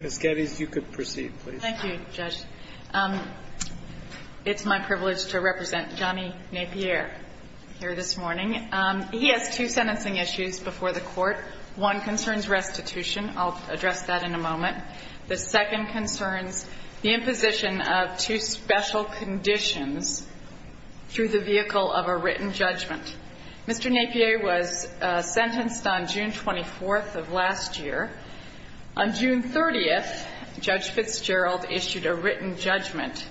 Ms. Geddes, you could proceed, please. Thank you, Judge. It's my privilege to represent Johnny Napier here this morning. He has two sentencing issues before the Court. One concerns restitution. I'll address that in a moment. The second concerns the imposition of two special conditions through the vehicle of a written judgment. Mr. Napier was sentenced on June 24th of last year. On June 30th, Judge Fitzgerald issued a written judgment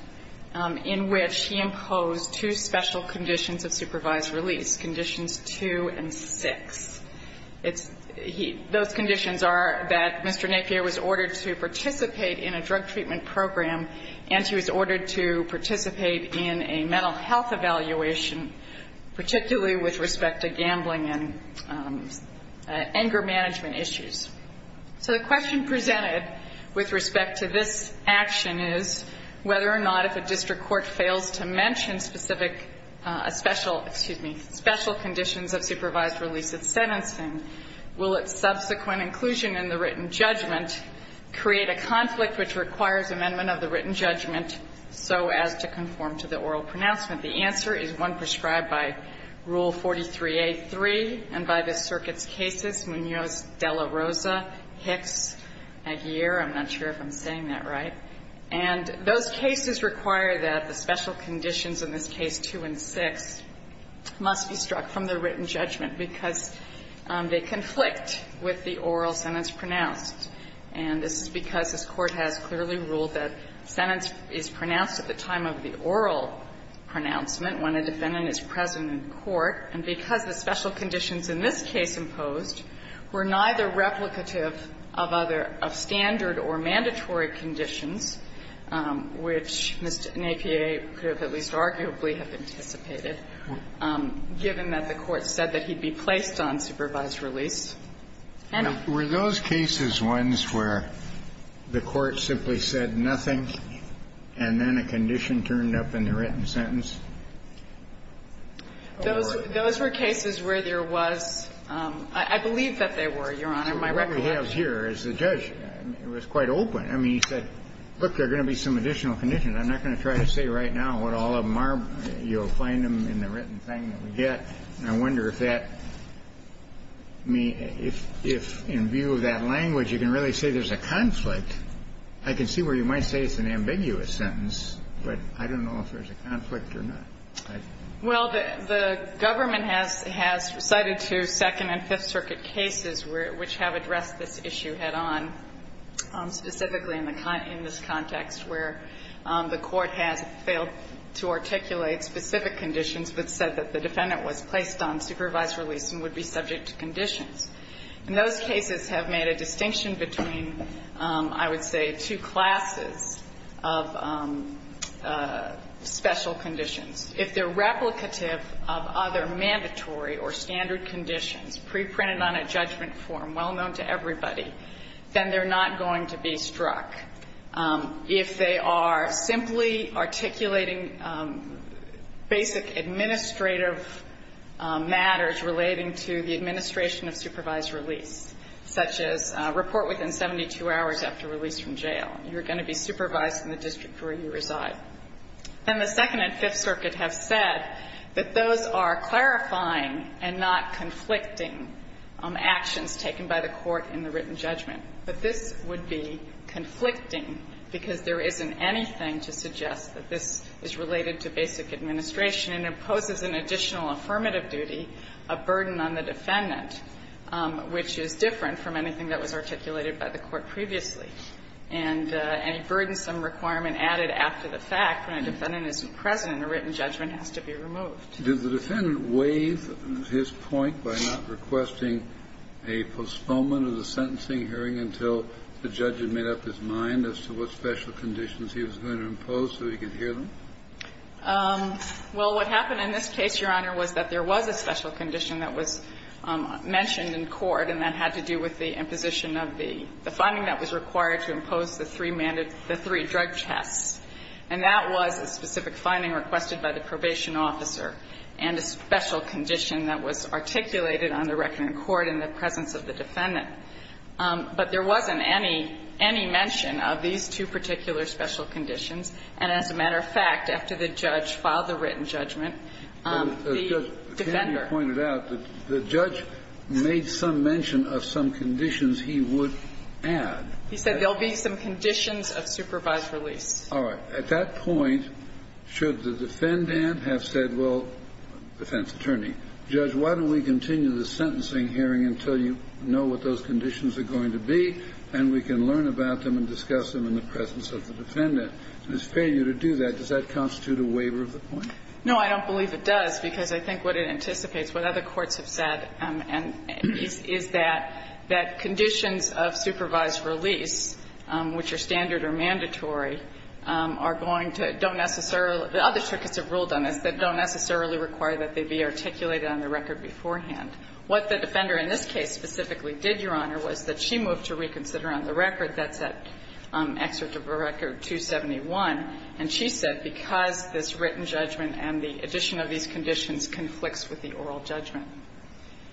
in which he imposed two special conditions of supervised release, conditions 2 and 6. Those conditions are that Mr. Napier was ordered to participate in a drug treatment program, and he was ordered to participate in a mental health evaluation, particularly with respect to gambling and anger management issues. So the question presented with respect to this action is whether or not if a district court fails to mention specific special conditions of supervised release of sentencing, will its subsequent inclusion in the written judgment create a conflict which requires amendment of the written judgment so as to conform to the oral pronouncement? And the answer is one prescribed by Rule 43A3 and by the circuit's cases, Munoz-De La Rosa, Hicks, Napier. I'm not sure if I'm saying that right. And those cases require that the special conditions in this case 2 and 6 must be struck from the written judgment because they conflict with the oral sentence pronounced. And this is because this Court has clearly ruled that sentence is pronounced at the time of the oral pronouncement when a defendant is present in court. And because the special conditions in this case imposed were neither replicative of other of standard or mandatory conditions, which Mr. Napier could have at least arguably have anticipated, given that the Court said that he'd be placed on supervised release. Kennedy. Were those cases ones where the Court simply said nothing and then a condition turned up in the written sentence? Those were cases where there was – I believe that they were, Your Honor, in my record. What we have here is the judge was quite open. I mean, he said, look, there are going to be some additional conditions. I'm not going to try to say right now what all of them are. You'll find them in the written thing that we get. I wonder if that – I mean, if in view of that language you can really say there's a conflict. I can see where you might say it's an ambiguous sentence, but I don't know if there's a conflict or not. Well, the government has cited two Second and Fifth Circuit cases which have addressed this issue head on, specifically in this context where the Court has failed to articulate specific conditions that said that the defendant was placed on supervised release and would be subject to conditions. And those cases have made a distinction between, I would say, two classes of special conditions. If they're replicative of other mandatory or standard conditions preprinted on a judgment form well known to everybody, then they're not going to be struck. If they are simply articulating basic administrative matters relating to the administration of supervised release, such as report within 72 hours after release from jail, you're going to be supervised in the district where you reside. And the Second and Fifth Circuit have said that those are clarifying and not conflicting actions taken by the Court in the written judgment. But this would be conflicting because there isn't anything to suggest that this is related to basic administration and imposes an additional affirmative duty, a burden on the defendant, which is different from anything that was articulated by the Court previously. And any burdensome requirement added after the fact when a defendant isn't present in a written judgment has to be removed. Kennedy, did the defendant waive his point by not requesting a postponement of the sentencing hearing until the judge had made up his mind as to what special conditions he was going to impose so he could hear them? Well, what happened in this case, Your Honor, was that there was a special condition that was mentioned in court, and that had to do with the imposition of the finding that was required to impose the three drug tests. And that was a specific finding requested by the probation officer and a special condition that was articulated on the record in court in the presence of the defendant. But there wasn't any mention of these two particular special conditions. And as a matter of fact, after the judge filed the written judgment, the defender Can you point it out that the judge made some mention of some conditions he would add? He said there will be some conditions of supervised release. All right. At that point, should the defendant have said, well, defense attorney, judge, why don't we continue the sentencing hearing until you know what those conditions are going to be, and we can learn about them and discuss them in the presence of the defendant? And his failure to do that, does that constitute a waiver of the point? No, I don't believe it does, because I think what it anticipates, what other courts are going to, don't necessarily, the other circuits have ruled on this, that don't necessarily require that they be articulated on the record beforehand. What the defender in this case specifically did, Your Honor, was that she moved to reconsider on the record, that's at excerpt of record 271, and she said, because this written judgment and the addition of these conditions conflicts with the oral judgment.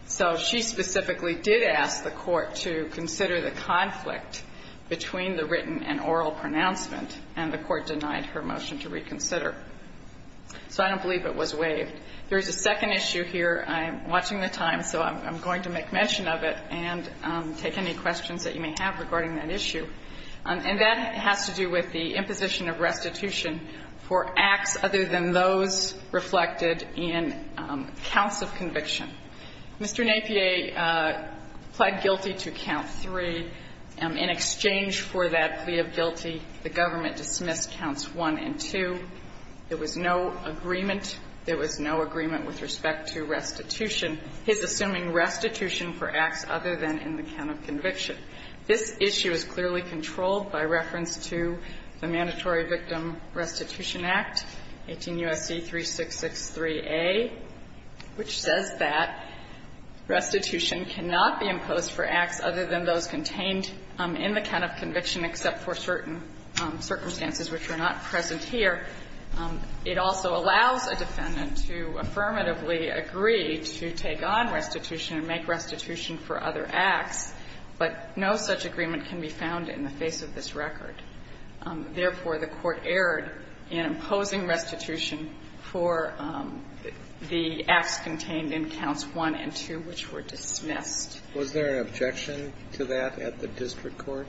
So she specifically did ask the court to consider the conflict between the written and oral pronouncement, and the court denied her motion to reconsider. So I don't believe it was waived. There is a second issue here. I'm watching the time, so I'm going to make mention of it and take any questions that you may have regarding that issue. And that has to do with the imposition of restitution for acts other than those reflected in counts of conviction. Mr. Napier pled guilty to count 3. In exchange for that plea of guilty, the government dismissed counts 1 and 2. There was no agreement. There was no agreement with respect to restitution. He's assuming restitution for acts other than in the count of conviction. This issue is clearly controlled by reference to the Mandatory Victim Restitution Act, 18 U.S.C. 3663a, which says that restitution cannot be imposed for acts other than those contained in the count of conviction except for certain circumstances which are not present here. It also allows a defendant to affirmatively agree to take on restitution and make restitution for other acts, but no such agreement can be found in the face of this record. Therefore, the Court erred in imposing restitution for the acts contained in counts 1 and 2, which were dismissed. Was there an objection to that at the district court?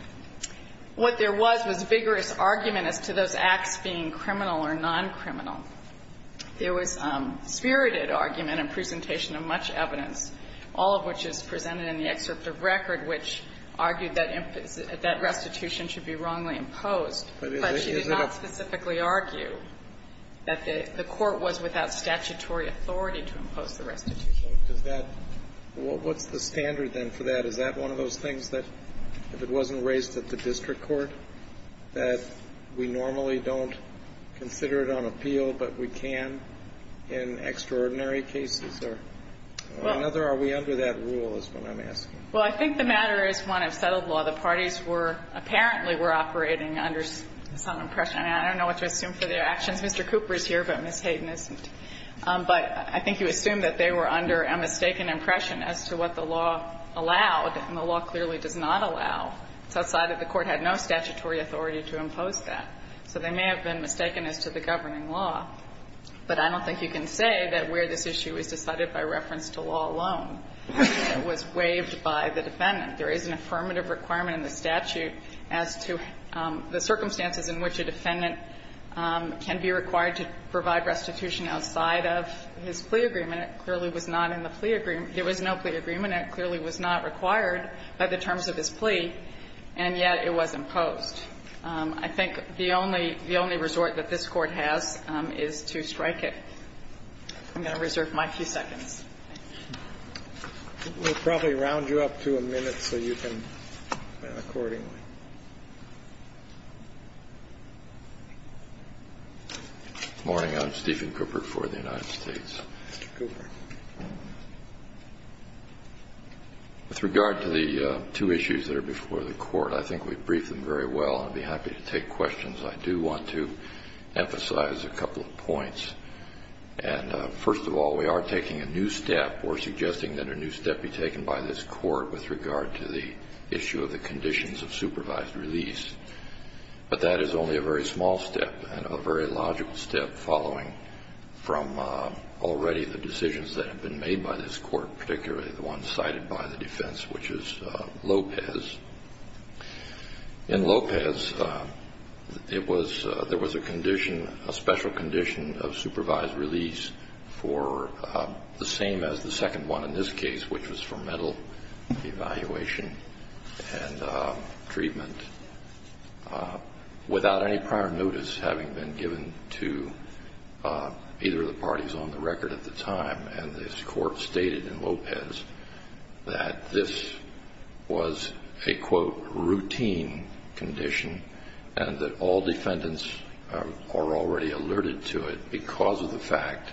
What there was was vigorous argument as to those acts being criminal or non-criminal. There was spirited argument and presentation of much evidence, all of which is presented in the excerpt of record, which argued that restitution should be wrongly imposed. But you did not specifically argue that the court was without statutory authority to impose the restitution. What's the standard then for that? Is that one of those things that, if it wasn't raised at the district court, that we normally don't consider it on appeal, but we can in extraordinary cases? Or another, are we under that rule, is what I'm asking. Well, I think the matter is one of settled law. The parties were – apparently were operating under some impression. I mean, I don't know what to assume for their actions. Mr. Cooper is here, but Ms. Hayden isn't. But I think you assume that they were under a mistaken impression as to what the law allowed and the law clearly does not allow. It's outside that the court had no statutory authority to impose that. So they may have been mistaken as to the governing law. But I don't think you can say that where this issue is decided by reference to law alone, it was waived by the defendant. There is an affirmative requirement in the statute as to the circumstances in which a defendant can be required to provide restitution outside of his plea agreement. It clearly was not in the plea agreement. There was no plea agreement. It clearly was not required by the terms of his plea, and yet it was imposed. I think the only – the only resort that this Court has is to strike it. I'm going to reserve my few seconds. Thank you. We'll probably round you up to a minute so you can – accordingly. Good morning. I'm Stephen Cooper for the United States. Mr. Cooper. With regard to the two issues that are before the Court, I think we've briefed them very well. I'd be happy to take questions. I do want to emphasize a couple of points. And first of all, we are taking a new step. We're suggesting that a new step be taken by this Court with regard to the issue of the conditions of supervised release. But that is only a very small step and a very logical step following from already the decisions that have been made by this Court, particularly the one cited by the defense, which is Lopez. In Lopez, it was – there was a condition, a special condition of supervised release for the same as the second one in this case, which was for mental evaluation and treatment without any prior notice having been given to either of the parties on the record at the time. And this Court stated in Lopez that this was a, quote, routine condition and that all defendants are already alerted to it because of the fact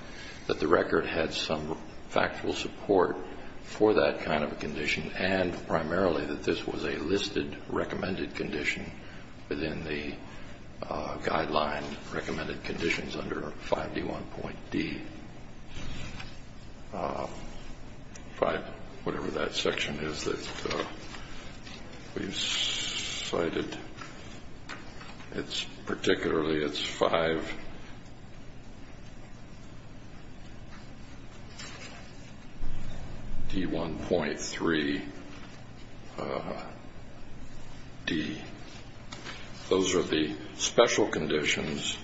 that the record had some factual support for that kind of a condition and primarily that this was a listed recommended condition the guideline recommended conditions under 5D1.D5, whatever that section is that we cited. And it's – particularly it's 5D1.3D. Those are the special conditions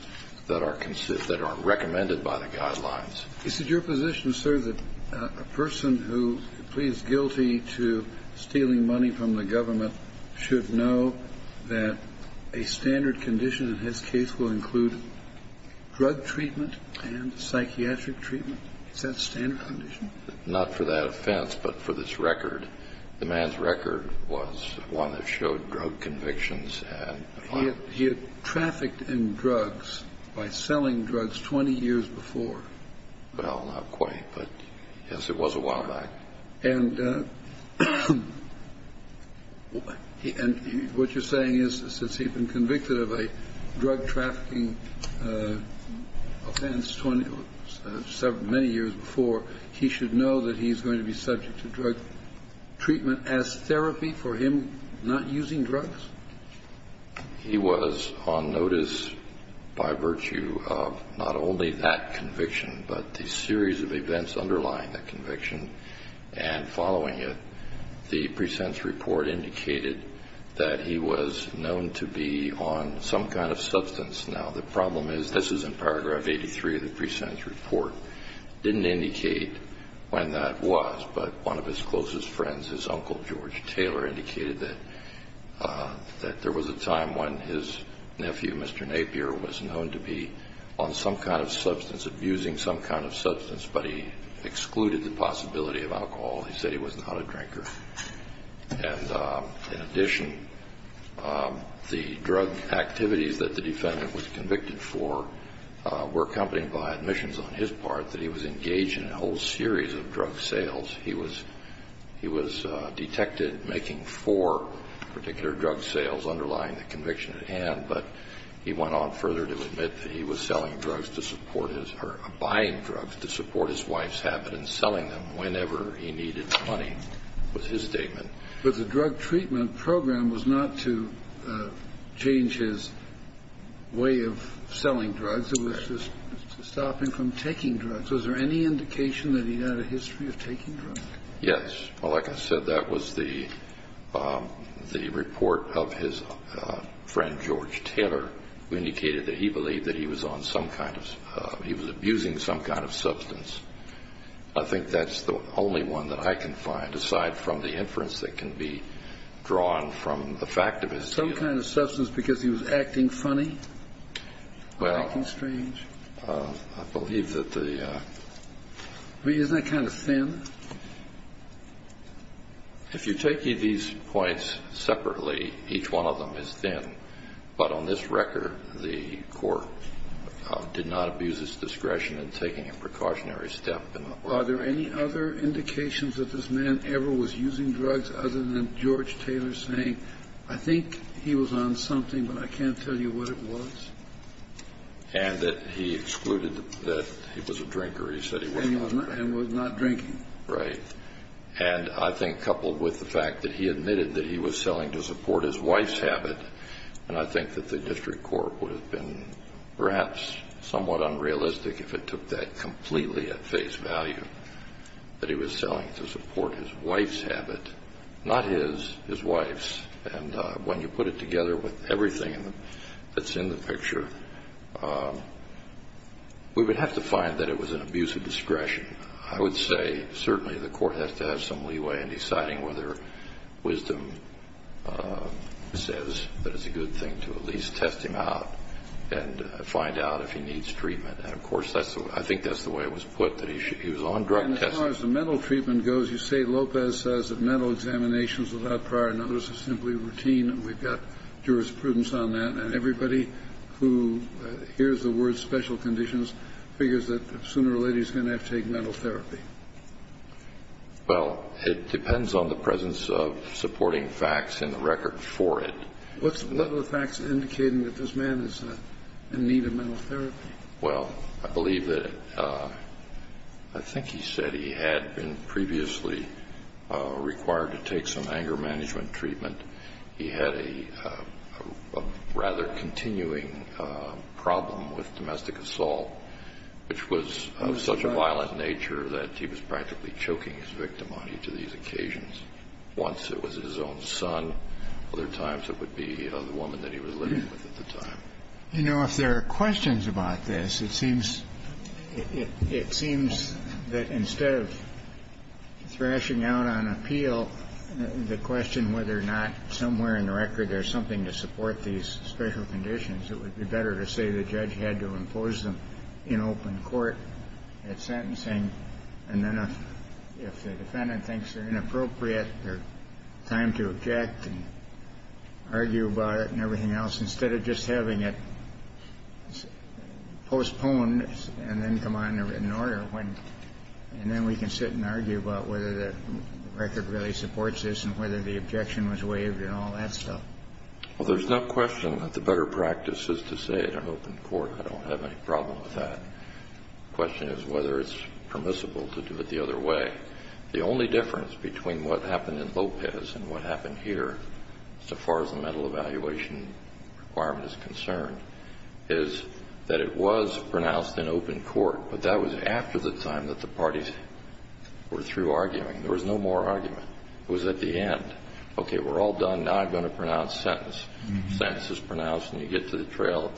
that are considered – that are recommended by the guidelines. Is it your position, sir, that a person who pleads guilty to stealing money from the government should know that a standard condition in his case will include drug treatment and psychiatric treatment? Is that a standard condition? Not for that offense, but for this record. The man's record was one that showed drug convictions and the fact that he had trafficked in drugs by selling drugs 20 years before. Well, not quite, but yes, it was a while back. And what you're saying is since he'd been convicted of a drug trafficking offense 20 – many years before, he should know that he's going to be subject to drug treatment as therapy for him not using drugs? He was on notice by virtue of not only that conviction, but the series of events underlying that conviction. And following it, the pre-sentence report indicated that he was known to be on some kind of substance. Now, the problem is – this is in paragraph 83 of the pre-sentence report – didn't indicate when that was, but one of his closest friends, his uncle, George Taylor, indicated that there was a time when his nephew, Mr. Napier, was known to be on some kind of substance, was abusing some kind of substance, but he excluded the possibility of alcohol. He said he was not a drinker. And in addition, the drug activities that the defendant was convicted for were accompanied by admissions on his part that he was engaged in a whole series of drug sales. He was – he was detected making four particular drug sales underlying the conviction at hand, but he went on further to admit that he was selling drugs to support his – or buying drugs to support his wife's habit in selling them whenever he needed money, was his statement. But the drug treatment program was not to change his way of selling drugs. It was to stop him from taking drugs. Was there any indication that he had a history of taking drugs? Yes. Well, like I said, that was the – the report of his friend, George Taylor, who indicated that he believed that he was on some kind of – he was abusing some kind of substance. I think that's the only one that I can find, aside from the inference that can be drawn from the fact of his – Some kind of substance because he was acting funny or acting strange? Well, I believe that the – I mean, isn't that kind of thin? If you're taking these points separately, each one of them is thin. But on this record, the court did not abuse its discretion in taking a precautionary step. Are there any other indications that this man ever was using drugs other than George Taylor saying, I think he was on something, but I can't tell you what it was? And that he excluded that he was a drinker. He said he wasn't. And was not drinking. Right. And I think coupled with the fact that he admitted that he was selling to support his wife's habit, and I think that the district court would have been perhaps somewhat unrealistic if it took that completely at face value, that he was selling to support his wife's habit. Not his, his wife's. And when you put it together with everything that's in the picture, we would have to find that it was an abuse of discretion. I would say certainly the court has to have some leeway in deciding whether wisdom says that it's a good thing to at least test him out and find out if he needs treatment. And of course, I think that's the way it was put, that he was on drug testing. And as far as the mental treatment goes, you say Lopez says that mental examinations without prior notice is simply routine. We've got jurisprudence on that. And everybody who hears the word special conditions figures that sooner or later he's going to have to take mental therapy. Well, it depends on the presence of supporting facts in the record for it. What are the facts indicating that this man is in need of mental therapy? Well, I believe that, I think he said he had been previously required to take some anger management treatment. He had a rather continuing problem with domestic assault, which was of such a violent nature that he was practically choking his victim on each of these occasions. Once it was his own son. Other times it would be the woman that he was living with at the time. You know, if there are questions about this, it seems that instead of thrashing out on appeal the question whether or not somewhere in the record there's something to support these special conditions, it would be better to say the judge had to impose them in open court at sentencing. And then if the defendant thinks they're inappropriate, there's time to object and argue about it and everything else, instead of just having it postponed and then come in order. And then we can sit and argue about whether the record really supports this and whether the objection was waived and all that stuff. Well, there's no question that the better practice is to say it in open court. I don't have any problem with that. The question is whether it's permissible to do it the other way. The only difference between what happened in Lopez and what happened here, so far as the mental evaluation requirement is concerned, is that it was pronounced in open court, but that was after the time that the parties were through arguing. There was no more argument. It was at the end. Okay, we're all done. Now I'm going to pronounce sentence. Sentence is pronounced, and you get to the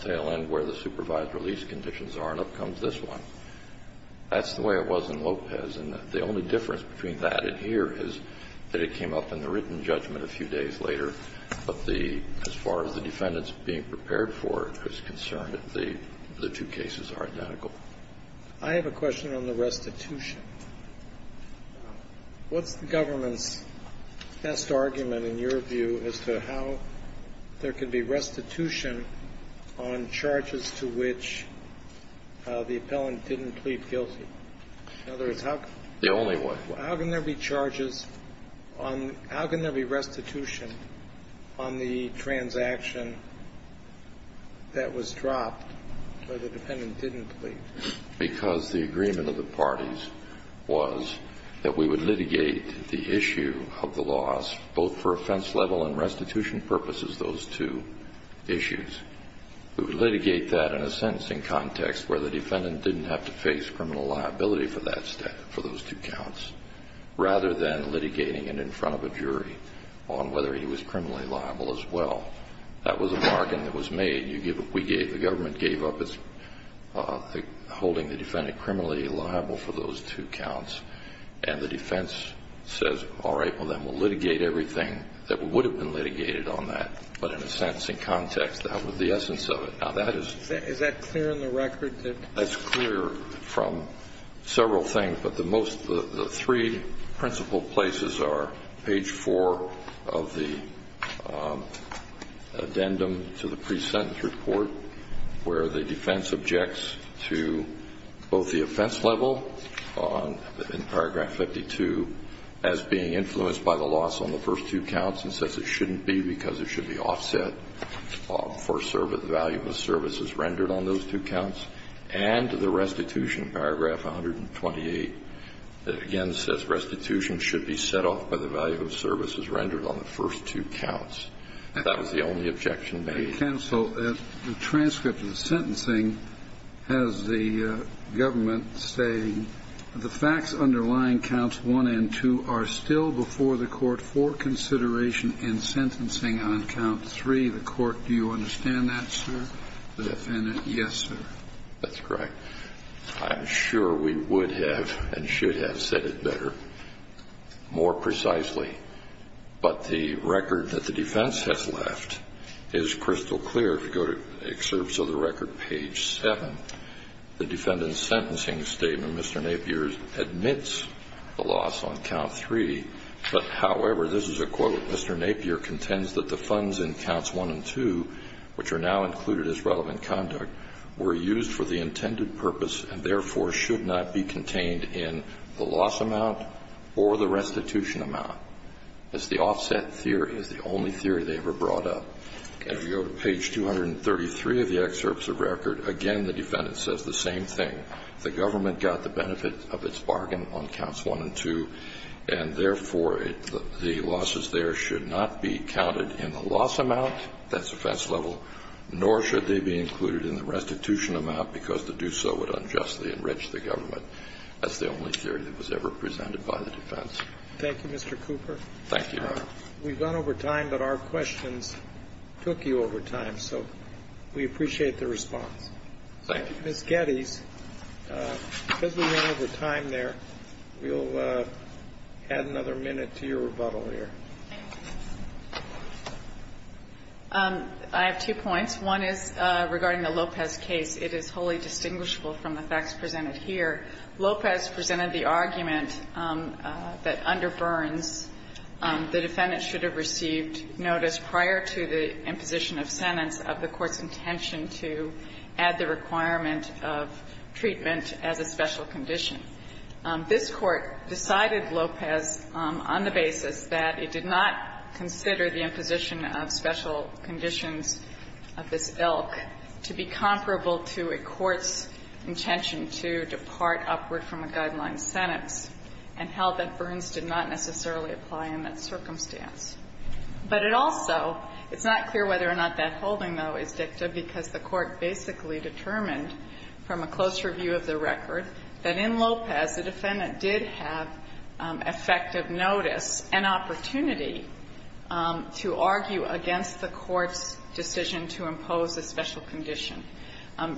tail end where the supervised release conditions are, and up comes this one. That's the way it was in Lopez. And the only difference between that and here is that it came up in the written judgment a few days later. But as far as the defendant's being prepared for it is concerned, the two cases are I have a question on the restitution. What's the government's best argument, in your view, as to how there can be restitution on charges to which the appellant didn't plead guilty? In other words, how can there be charges on how can there be restitution on the transaction that was dropped where the defendant didn't plead? Because the agreement of the parties was that we would litigate the issue of the loss, both for offense level and restitution purposes, those two issues. We would litigate that in a sentencing context where the defendant didn't have to face criminal liability for that step, for those two counts, rather than litigating it in front of a jury on whether he was criminally liable as well. That was a bargain that was made. The government gave up holding the defendant criminally liable for those two counts. And the defense says, all right, well, then we'll litigate everything that would have been litigated on that. But in a sentencing context, that was the essence of it. Now, that is Is that clear in the record? That's clear from several things. But the most, the three principal places are page 4 of the addendum to the pre-sentence report, where the defense objects to both the offense level in paragraph 52 as being influenced by the loss on the first two counts and says it shouldn't be because it should be offset for value of services rendered on those two counts. And the restitution, paragraph 128, again, says restitution should be set off by the value of services rendered on the first two counts. That was the only objection made. Counsel, the transcript of the sentencing has the government saying the facts underlying counts 1 and 2 are still before the court for consideration in sentencing The court, do you understand that, sir? The defendant? Yes, sir. That's correct. I'm sure we would have and should have said it better, more precisely. But the record that the defense has left is crystal clear. If you go to excerpts of the record, page 7, the defendant's sentencing statement, Mr. Napier, admits the loss on count 3. But, however, this is a quote. Mr. Napier contends that the funds in counts 1 and 2, which are now included as relevant conduct, were used for the intended purpose and, therefore, should not be contained in the loss amount or the restitution amount. It's the offset theory. It's the only theory they ever brought up. And if you go to page 233 of the excerpts of record, again, the defendant says the same thing. The government got the benefit of its bargain on counts 1 and 2, and, therefore, the losses there should not be counted in the loss amount, that's offense level, nor should they be included in the restitution amount because to do so would unjustly enrich the government. That's the only theory that was ever presented by the defense. Thank you, Mr. Cooper. Thank you. We've gone over time, but our questions took you over time, so we appreciate the response. Thank you. Ms. Geddes, because we went over time there, we'll add another minute to your rebuttal here. Thank you. I have two points. One is regarding the Lopez case. It is wholly distinguishable from the facts presented here. Lopez presented the argument that under Burns, the defendant should have received notice prior to the imposition of sentence of the court's intention to add the requirement of treatment as a special condition. This Court decided Lopez on the basis that it did not consider the imposition of special conditions of this ilk to be comparable to a court's intention to depart upward from a guideline sentence, and held that Burns did not necessarily apply in that circumstance. But it also — it's not clear whether or not that holding, though, is dicta, because the Court basically determined from a close review of the record that in Lopez, the defendant did have effective notice and opportunity to argue against the court's decision to impose a special condition,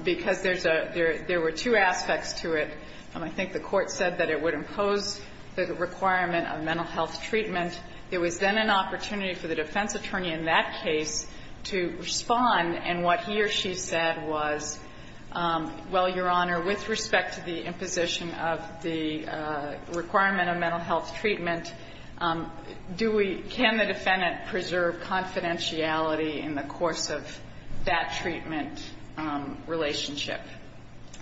because there's a — there were two aspects to it. I think the Court said that it would impose the requirement of mental health treatment. There was then an opportunity for the defense attorney in that case to respond. And what he or she said was, well, Your Honor, with respect to the imposition of the requirement of mental health treatment, do we — can the defendant preserve confidentiality in the course of that treatment relationship?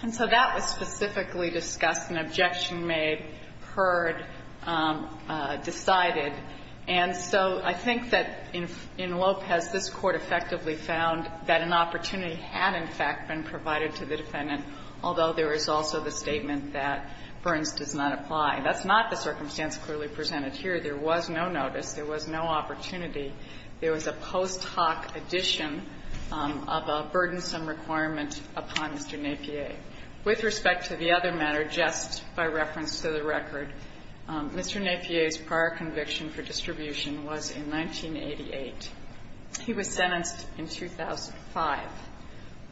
And so that was specifically discussed and objection made, heard, decided. And so I think that in Lopez, this Court effectively found that an opportunity had in fact been provided to the defendant, although there is also the statement that Burns does not apply. That's not the circumstance clearly presented here. There was no notice. There was no opportunity. There was a post hoc addition of a burdensome requirement upon Mr. Napier. With respect to the other matter, just by reference to the record, Mr. Napier's prior conviction for distribution was in 1988. He was sentenced in 2005.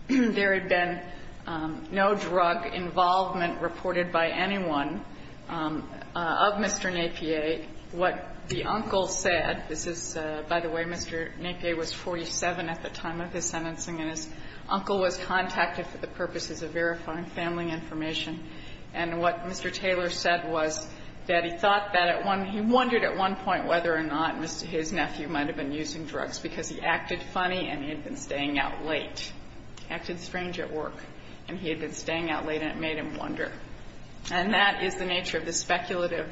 There had been no drug involvement reported by anyone of Mr. Napier. What the uncle said, this is — by the way, Mr. Napier was 47 at the time of his sentencing and his uncle was contacted for the purposes of verifying family information. And what Mr. Taylor said was that he thought that at one — he wondered at one point whether or not his nephew might have been using drugs, because he acted funny and he had been staying out late. He acted strange at work and he had been staying out late and it made him wonder. And that is the nature of the speculative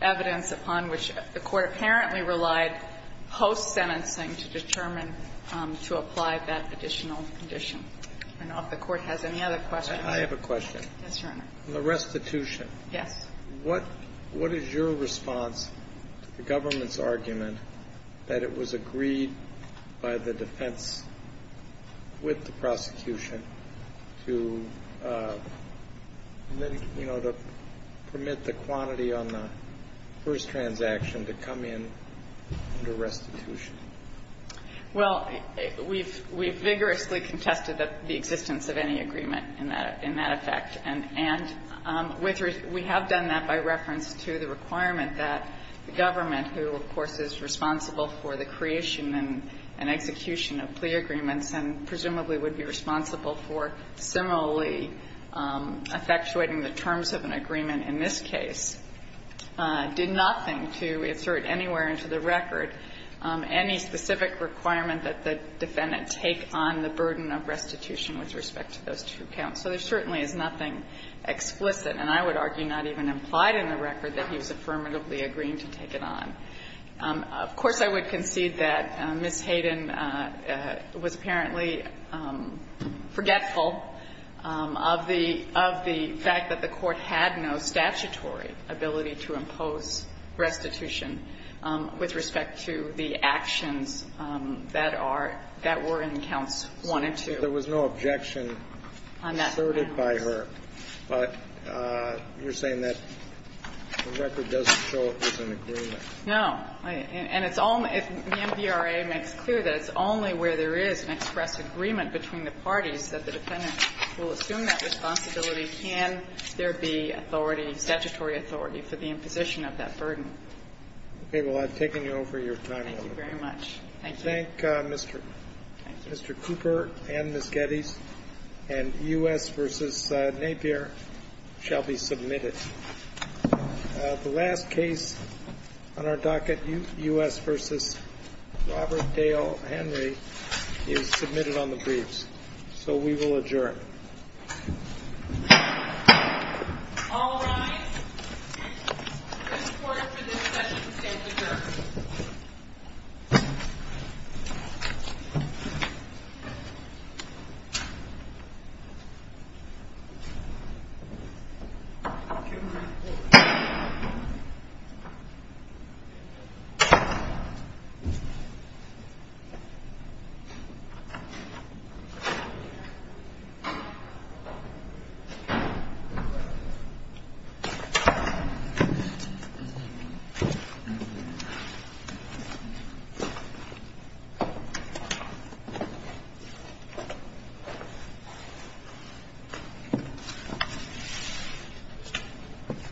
evidence upon which the Court apparently relied post-sentencing to determine to apply that additional condition. I don't know if the Court has any other questions. I have a question. Yes, Your Honor. The restitution. Yes. What is your response to the government's argument that it was agreed by the defense with the prosecution to, you know, to permit the quantity on the first transaction to come in under restitution? Well, we've vigorously contested the existence of any agreement in that effect. And we have done that by reference to the requirement that the government, who, of course, is responsible for the creation and execution of plea agreements and presumably would be responsible for similarly effectuating the terms of an agreement in this case, did nothing to insert anywhere into the record any specific requirement that the defendant take on the burden of restitution with respect to those two counts. So there certainly is nothing explicit, and I would argue not even implied in the record, that he was affirmatively agreeing to take it on. Of course, I would concede that Ms. Hayden was apparently forgetful of the fact that the Court had no statutory ability to impose restitution with respect to the actions that are – that were in counts 1 and 2. There was no objection asserted by her. But you're saying that the record doesn't show it was an agreement. No. And it's only – the MDRA makes clear that it's only where there is an express agreement between the parties that the defendant will assume that responsibility can there be authority, statutory authority, for the imposition of that burden. Okay. Well, I've taken you over your time. Thank you very much. Thank you. I thank Mr. Cooper and Ms. Geddes. And U.S. v. Napier shall be submitted. The last case on our docket, U.S. v. Robert Dale Henry, is submitted on the briefs. So we will adjourn. All rise. This Court for this session stands adjourned. Thank you. Thank you.